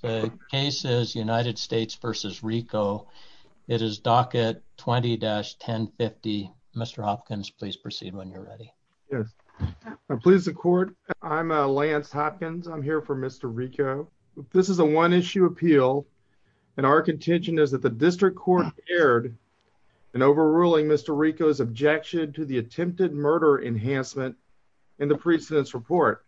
The case is United States v. Rico. It is docket 20-1050. Mr. Hopkins, please proceed when you're ready. Yes, I'm pleased to court. I'm Lance Hopkins. I'm here for Mr. Rico. This is a one-issue appeal and our contention is that the district court erred in overruling Mr. Rico's objection to attempted murder enhancement in the precedent's report.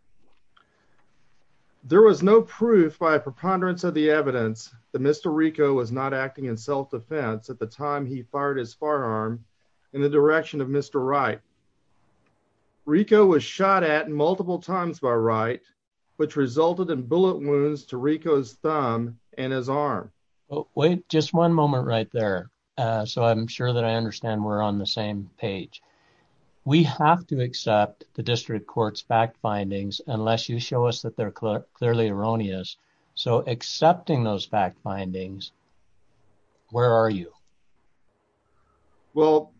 There was no proof by a preponderance of the evidence that Mr. Rico was not acting in self-defense at the time he fired his firearm in the direction of Mr. Wright. Rico was shot at multiple times by Wright which resulted in bullet wounds to Rico's thumb and his arm. Wait just one moment right there so I'm sure that I understand we're on the same page. We have to accept the district court's fact findings unless you show us that they're clearly erroneous. So accepting those fact findings, where are you? Well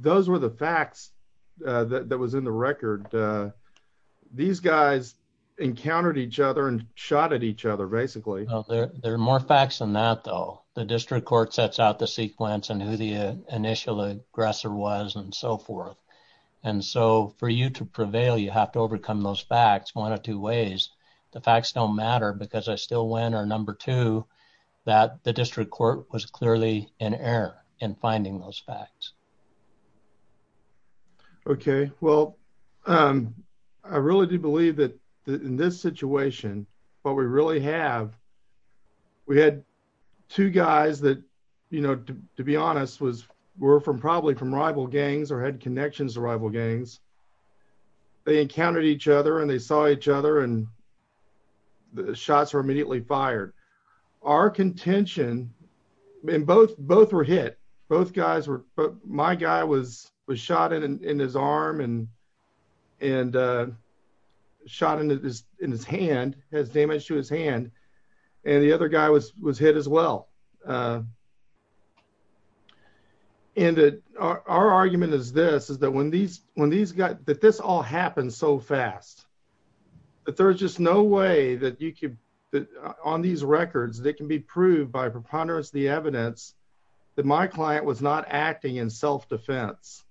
those were the facts that was in the record. These guys encountered each other and shot at each other basically. There are more facts than that though. The district court sets out the sequence and who initial aggressor was and so forth and so for you to prevail you have to overcome those facts one of two ways. The facts don't matter because I still win or number two that the district court was clearly in error in finding those facts. Okay well I really do believe that in this situation what we really have we had two guys that you know to be honest was were from probably from rival gangs or had connections to rival gangs. They encountered each other and they saw each other and the shots were immediately fired. Our contention and both both were hit both guys were my guy was was shot in his arm and and shot in his hand has damage to his hand and the other guy was was hit as well. And our argument is this is that when these when these guys that this all happened so fast that there's just no way that you could that on these records that can be proved by preponderance the evidence that my client was not acting in self-defense.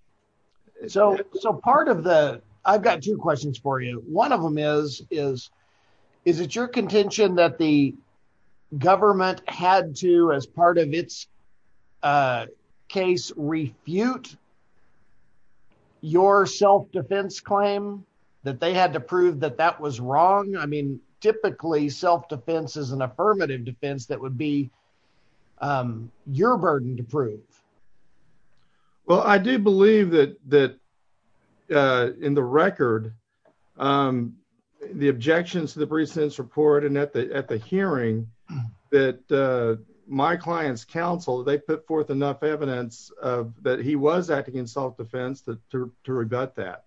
So so part of the I've got two questions for you one of them is is is it your contention that the government had to as part of its case refute your self-defense claim that they had to prove that that was wrong. I mean typically self-defense is an affirmative defense that would be your burden to prove. Well I do believe that that in the record the objections to the recent report and at the at the hearing that my client's counsel they put forth enough evidence that he was acting in self-defense to to rebut that.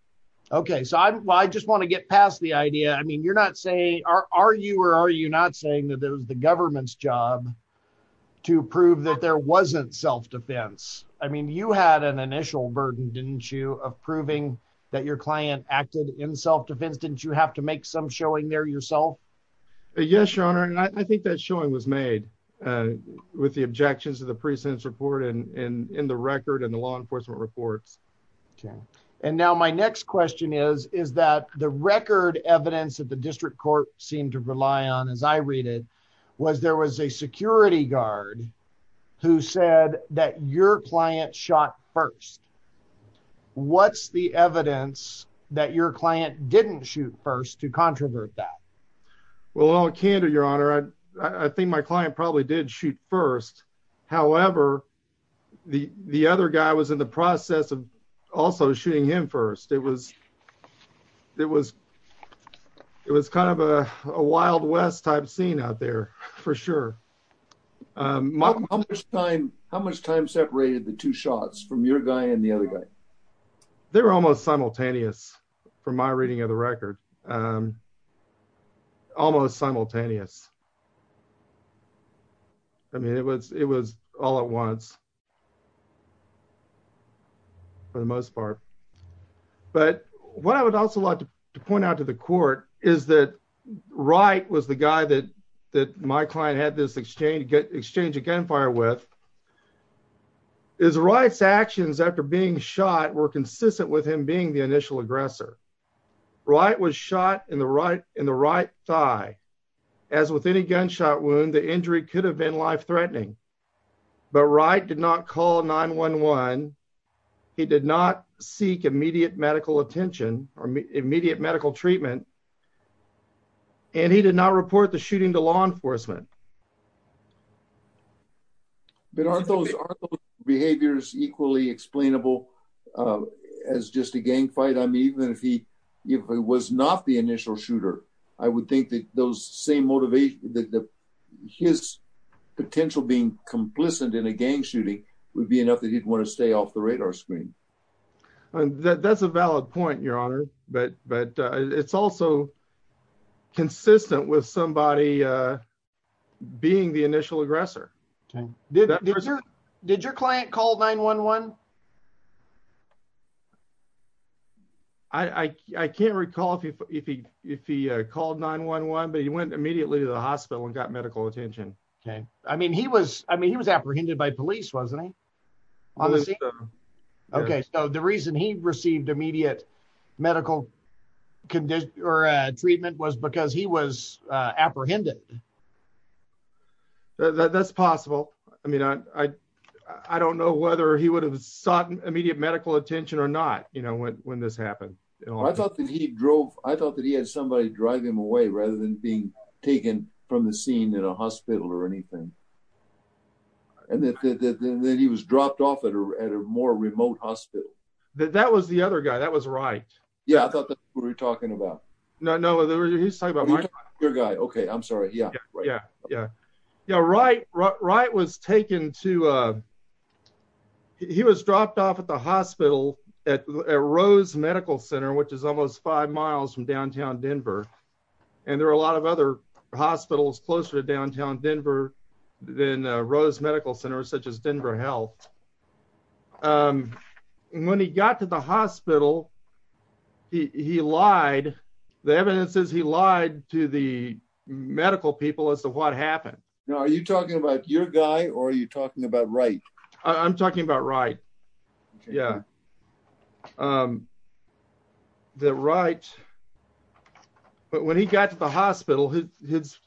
Okay so I just want to get past the idea I mean you're not saying are you or are you not saying that it was the government's job to prove that there wasn't self-defense. I mean you had an initial burden didn't you of proving that your client acted in self-defense didn't you have to make some showing there yourself? Yes your honor and I think that showing was made with the objections to the precincts report and in the record and the law enforcement reports. Okay and now my next question is is that the record evidence that the district court seemed to rely on as I read it was there was a security guard who said that your client shot first. What's the evidence that your client didn't shoot first to controvert that? Well I'll candor your honor I I think my client probably did shoot first however the the other guy was in the process of also shooting him first it was it was it was kind of a wild west type scene out there for sure. How much time how much time separated the two shots from your guy and the other guy? They were almost simultaneous from my reading of the record almost simultaneous. I mean it was it was all at once for the most part but what I would also like to point out to the court is that Wright was the guy that that my client had this exchange exchange a gunfire with his Wright's actions after being shot were consistent with him being the initial aggressor. Wright was shot in the right in the right thigh as with any gunshot wound the injury could have been life-threatening but Wright did not call 9-1-1 he did not seek immediate medical attention or immediate medical treatment and he did not report the shooting to law enforcement. But aren't those behaviors equally explainable as just a gang fight? I mean even if he if it was not the initial shooter I would think that those same motivation that his potential being complicit in a gang shooting would be enough that he'd want to stay off the radar screen. That that's a valid point your honor but but it's also consistent with somebody uh being the initial aggressor. Okay did your client call 9-1-1? I can't recall if he called 9-1-1 but he went immediately to the hospital and got medical attention. Okay I mean he was I mean he was apprehended by police wasn't he? Okay so the reason he received immediate medical condition or treatment was because he was apprehended. That's possible I mean I don't know whether he would have sought immediate medical attention or not you know when this happened. I thought that he drove I thought that he had somebody drive him away rather than being taken from the scene in a hospital or anything and that he was dropped off at a more remote hospital. That was the other guy that was Wright. Yeah I thought that's who we're talking about. No no he's talking about your guy. Okay I'm sorry yeah yeah yeah yeah Wright was taken to uh he was dropped off at the hospital at Rose Medical Center which is almost five miles from downtown Denver and there are a lot of other hospitals closer to downtown Denver than Rose Medical Center such as Denver Health. And when he got to the hospital he lied the evidence is he lied to the medical people as to what happened. Now are you talking about your guy or are you talking about Wright? I'm talking about Wright. Yeah the Wright but when he got to the hospital his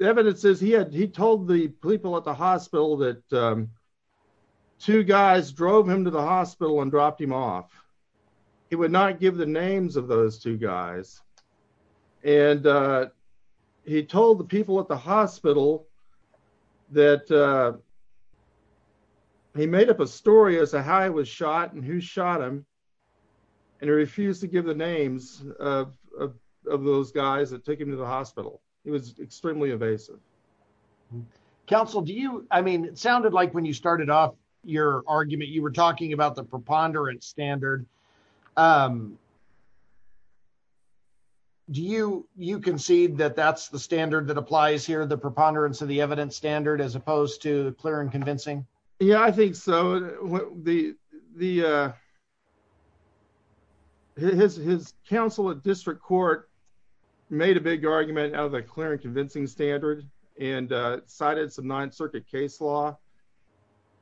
evidence is he had he told the people at the hospital that two guys drove him to the hospital and dropped him off. He would not give the names of those two guys and he told the people at the hospital that he made up a story as to how he was shot and who shot him and he refused to give the extremely evasive. Counsel do you I mean it sounded like when you started off your argument you were talking about the preponderance standard. Do you you concede that that's the standard that applies here the preponderance of the evidence standard as opposed to clear and convincing? Yeah I think so the the uh his counsel at district court made a big argument out of a clear and convincing standard and uh cited some ninth circuit case law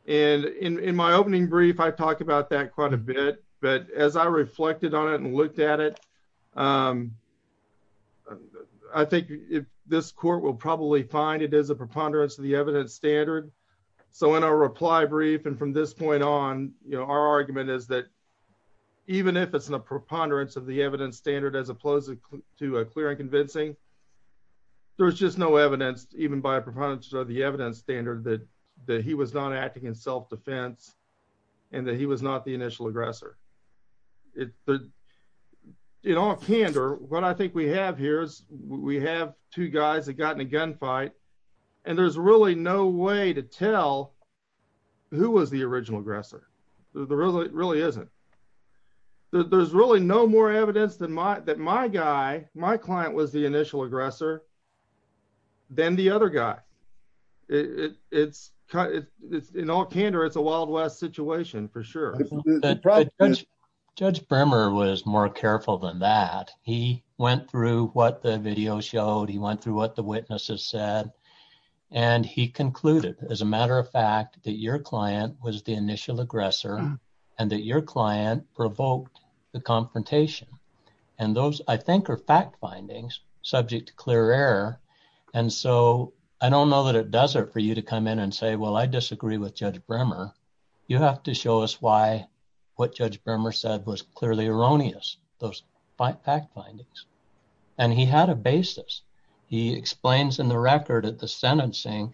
and in in my opening brief I talked about that quite a bit but as I reflected on it and looked at it um I think if this court will probably find it is a preponderance of the evidence standard so in our reply brief and from this point on you know our preponderance of the evidence standard as opposed to a clear and convincing there's just no evidence even by a preponderance of the evidence standard that that he was not acting in self-defense and that he was not the initial aggressor. In all candor what I think we have here is we have two guys that got in a gunfight and there's really no way to tell who was the original aggressor there really really isn't there's really no more evidence than my that my guy my client was the initial aggressor than the other guy it it's it's in all candor it's a wild west situation for sure. Judge Bremmer was more careful than that he went through what the video showed he went through what the witnesses said and he concluded as a matter of fact that your client was the initial aggressor and that your client provoked the confrontation and those I think are fact findings subject to clear error and so I don't know that it does it for you to come in and say well I disagree with Judge Bremmer you have to show us why what Judge Bremmer said was clearly erroneous those fact findings and he had a basis he explains in the record at the sentencing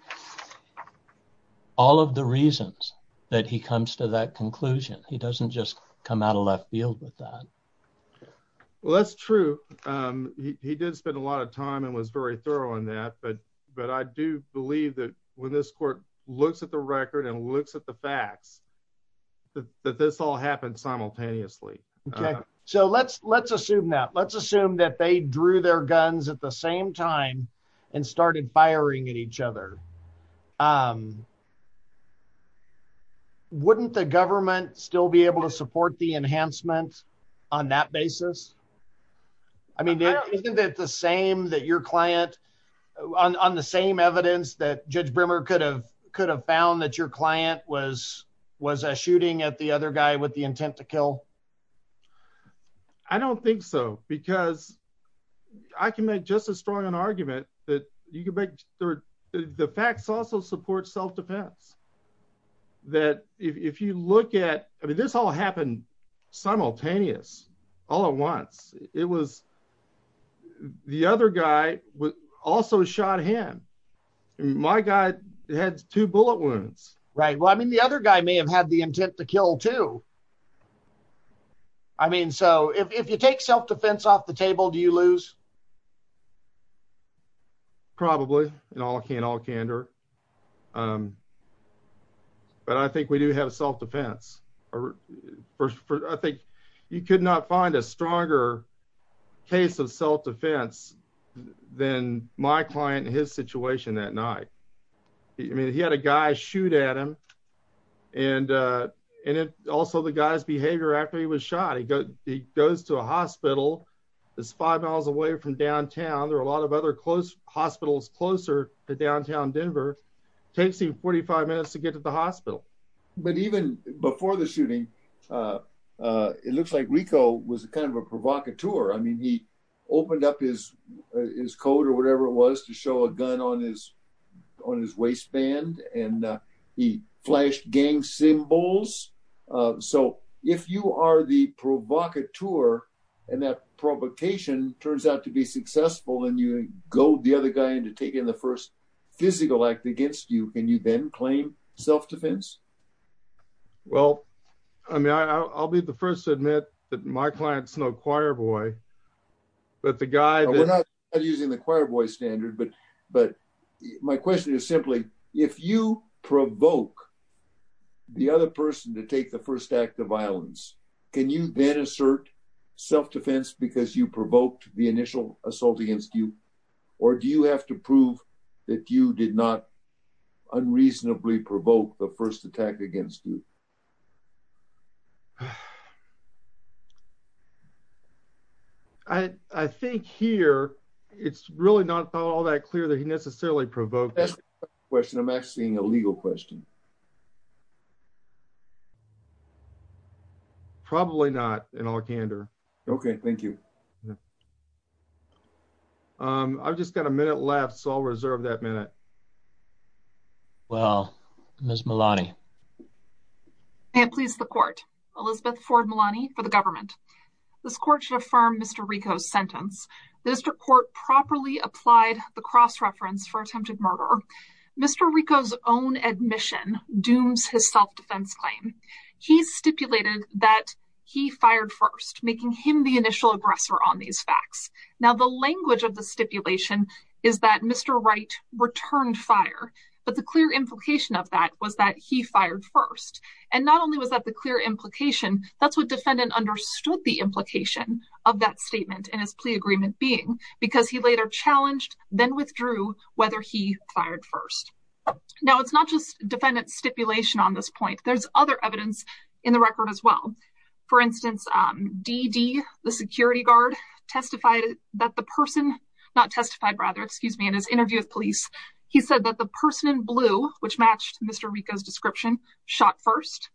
all of the reasons that he comes to that conclusion he doesn't just come out of left field with that. Well that's true he did spend a lot of time and was very thorough on that but but I do believe that when this court looks at the record and looks at the facts that this all happened simultaneously. Okay so let's let's assume that let's assume that they drew their guns at the same time and started firing at each other. Wouldn't the government still be able to support the enhancement on that basis? I mean isn't it the same that your client on the same evidence that Judge Bremmer could have could have found that your client was was a shooting at the other guy with the intent to kill? I don't think so because I can make just as strong an argument that you could make the facts also support self-defense that if you look at I mean this all happened simultaneous all at once it was the other guy was also shot him my guy had two bullet wounds. Right well I mean the other guy may have had the intent to kill too. I mean so if you take self-defense off the table do you lose? Probably in all can all candor but I think we do have self-defense or I think you could not find a stronger case of self-defense than my client in his situation that night. I mean he had a guy shoot at him and and it also the guy's behavior after he was shot he goes to a hospital that's five miles away from downtown there are a lot of other close hospitals closer to downtown Denver takes him 45 minutes to get to the hospital. But even before the shooting it looks like Rico was kind of a provocateur. I mean he opened up his his coat or whatever it was to show a gun on his on his waistband and he flashed gang symbols so if you are the provocateur and that provocation turns out to be successful and you go the other guy into taking the first physical act against you can you then claim self-defense? Well I mean I'll be the first to admit that my client's no choir boy but the guy that we're not using the choir boy standard but but my question is simply if you provoke the other person to take the first act of violence can you then assert self-defense because you provoked the initial assault against you or do you have to prove that you did not unreasonably provoke the first attack against you? I think here it's really not all that clear that he necessarily provoked question I'm asking a legal question. Probably not in all candor. Okay thank you. I've just got a minute left so I'll reserve that minute. Well Ms. Malani. May it please the court. Elizabeth Ford Malani for the government. This court should affirm Mr. Rico's sentence. The district court properly applied the cross for attempted murder. Mr. Rico's own admission dooms his self-defense claim. He stipulated that he fired first making him the initial aggressor on these facts. Now the language of the stipulation is that Mr. Wright returned fire but the clear implication of that was that he fired first and not only was that the clear implication that's what defendant understood the implication of that statement and his plea agreement being because he later challenged then withdrew whether he fired first. Now it's not just defendant stipulation on this point there's other evidence in the record as well. For instance D.D. the security guard testified that the person not testified rather excuse me in his interview with police he said that the person in blue which matched Mr. Rico's description shot first.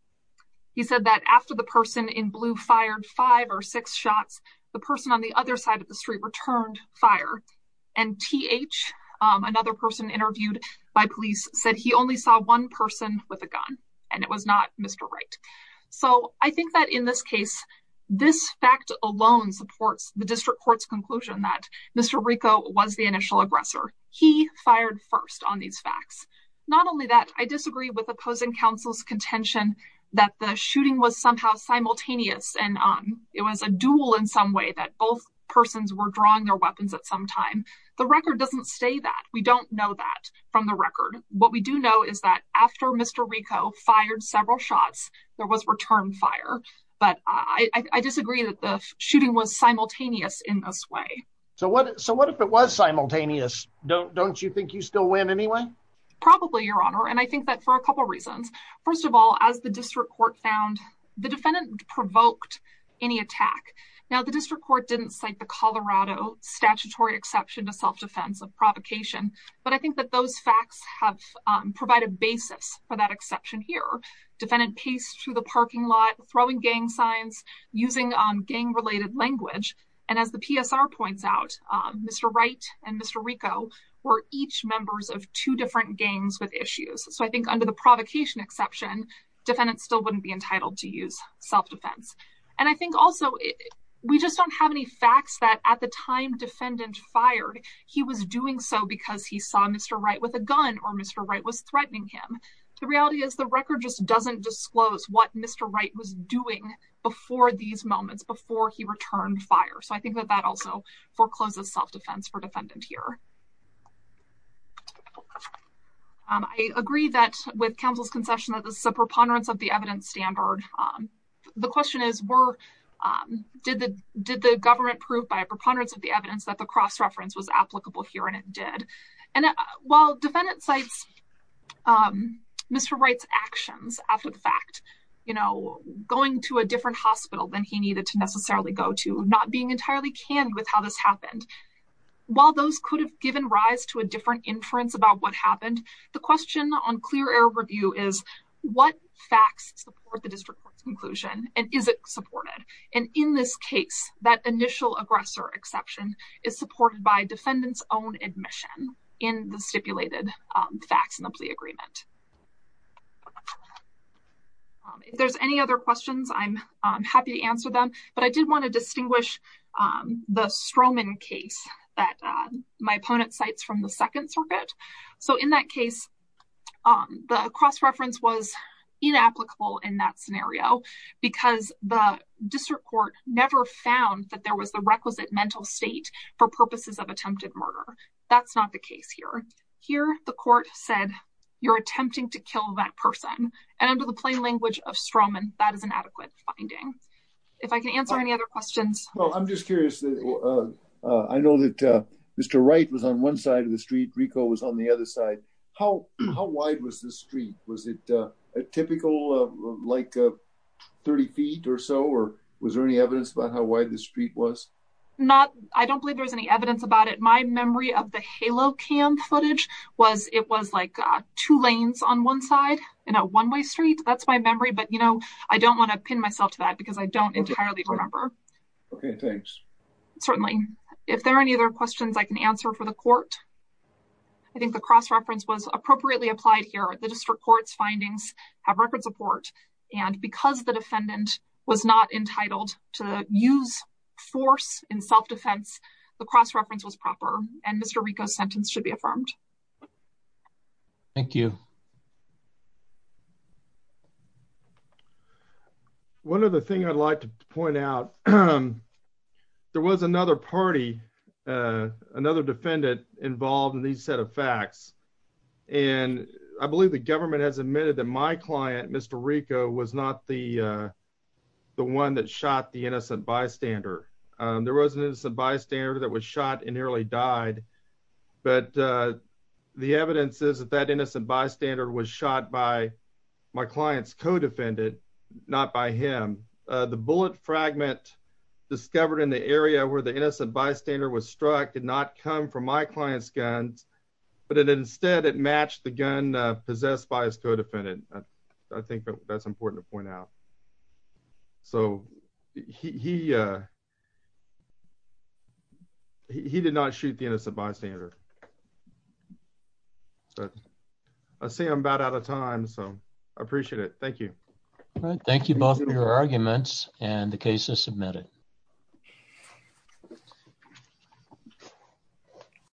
He said that after the person in blue fired five or six shots the person on the other side of the street returned fire and T.H. another person interviewed by police said he only saw one person with a gun and it was not Mr. Wright. So I think that in this case this fact alone supports the district court's conclusion that Mr. Rico was the initial aggressor. He fired first on these facts. Not only that I disagree with opposing counsel's contention that the shooting was somehow simultaneous and it was a duel in some way that both persons were drawing their weapons at some time. The record doesn't say that. We don't know that from the record. What we do know is that after Mr. Rico fired several shots there was return fire but I disagree that the shooting was simultaneous in this way. So what so what if it was simultaneous? Don't you think you still win anyway? Probably your honor and I think that for a couple reasons. First of all as the district court found the defendant provoked any attack. Now the district court didn't cite the Colorado statutory exception to self-defense of provocation but I think that those facts have provided basis for that exception here. Defendant paced through the parking lot throwing gang signs using gang related language and as the PSR points out Mr. Wright and Mr. Rico were each members of two different gangs with issues. So I think under provocation exception defendants still wouldn't be entitled to use self-defense and I think also we just don't have any facts that at the time defendant fired he was doing so because he saw Mr. Wright with a gun or Mr. Wright was threatening him. The reality is the record just doesn't disclose what Mr. Wright was doing before these moments before he returned fire. So I think that also forecloses self-defense for defendant here. I agree that with counsel's concession that this is a preponderance of the evidence standard. The question is were did the did the government prove by a preponderance of the evidence that the cross-reference was applicable here and it did and while defendant cites Mr. Wright's actions after the fact you know going to a different hospital than he needed to necessarily go to not being entirely canned with how this happened while those could have given rise to a different inference about what happened the question on clear air review is what facts support the district court's conclusion and is it supported and in this case that initial aggressor exception is supported by defendants own admission in the stipulated facts in the plea agreement. If there's any other questions I'm happy to answer them but I did want to distinguish the Stroman case that my opponent cites from the second circuit. So in that case the cross-reference was inapplicable in that scenario because the district court never found that there was the requisite mental state for purposes of attempted murder. That's not the case here. Here the court said you're attempting to kill that person and under the plain language of Stroman that is an adequate finding. If I can answer any other questions. Well I'm just curious I know that Mr. Wright was on one side of the street Rico was on the other side. How how wide was the street? Was it a typical like 30 feet or so or was there any evidence about how wide the street was? Not I don't believe there's any evidence about it. My memory of the halo cam footage was it was like two lanes on one side in a one-way street. That's my memory but you know I don't want to pin myself to that because I don't entirely remember. Okay thanks. Certainly if there are any other questions I can answer for the court. I think the cross-reference was appropriately applied here. The district court's findings have record support and because the defendant was not entitled to use force in self-defense the cross-reference was proper and Mr. Rico's sentence should be affirmed. Thank you. One other thing I'd like to point out there was another party another defendant involved in these set of facts and I believe the government has admitted that my client Mr. Rico was not the one that shot the innocent bystander. There was an innocent bystander that was shot and nearly died but the evidence is that that innocent bystander was shot by my client's co-defendant not by him. The bullet fragment discovered in the area where the innocent bystander was struck did not come from my client's guns but it instead it matched the gun possessed by his co-defendant. I think that's important to point out so he did not shoot the innocent bystander. I see I'm about out of time so I appreciate it. Thank you. Thank you both for your arguments and the case is submitted.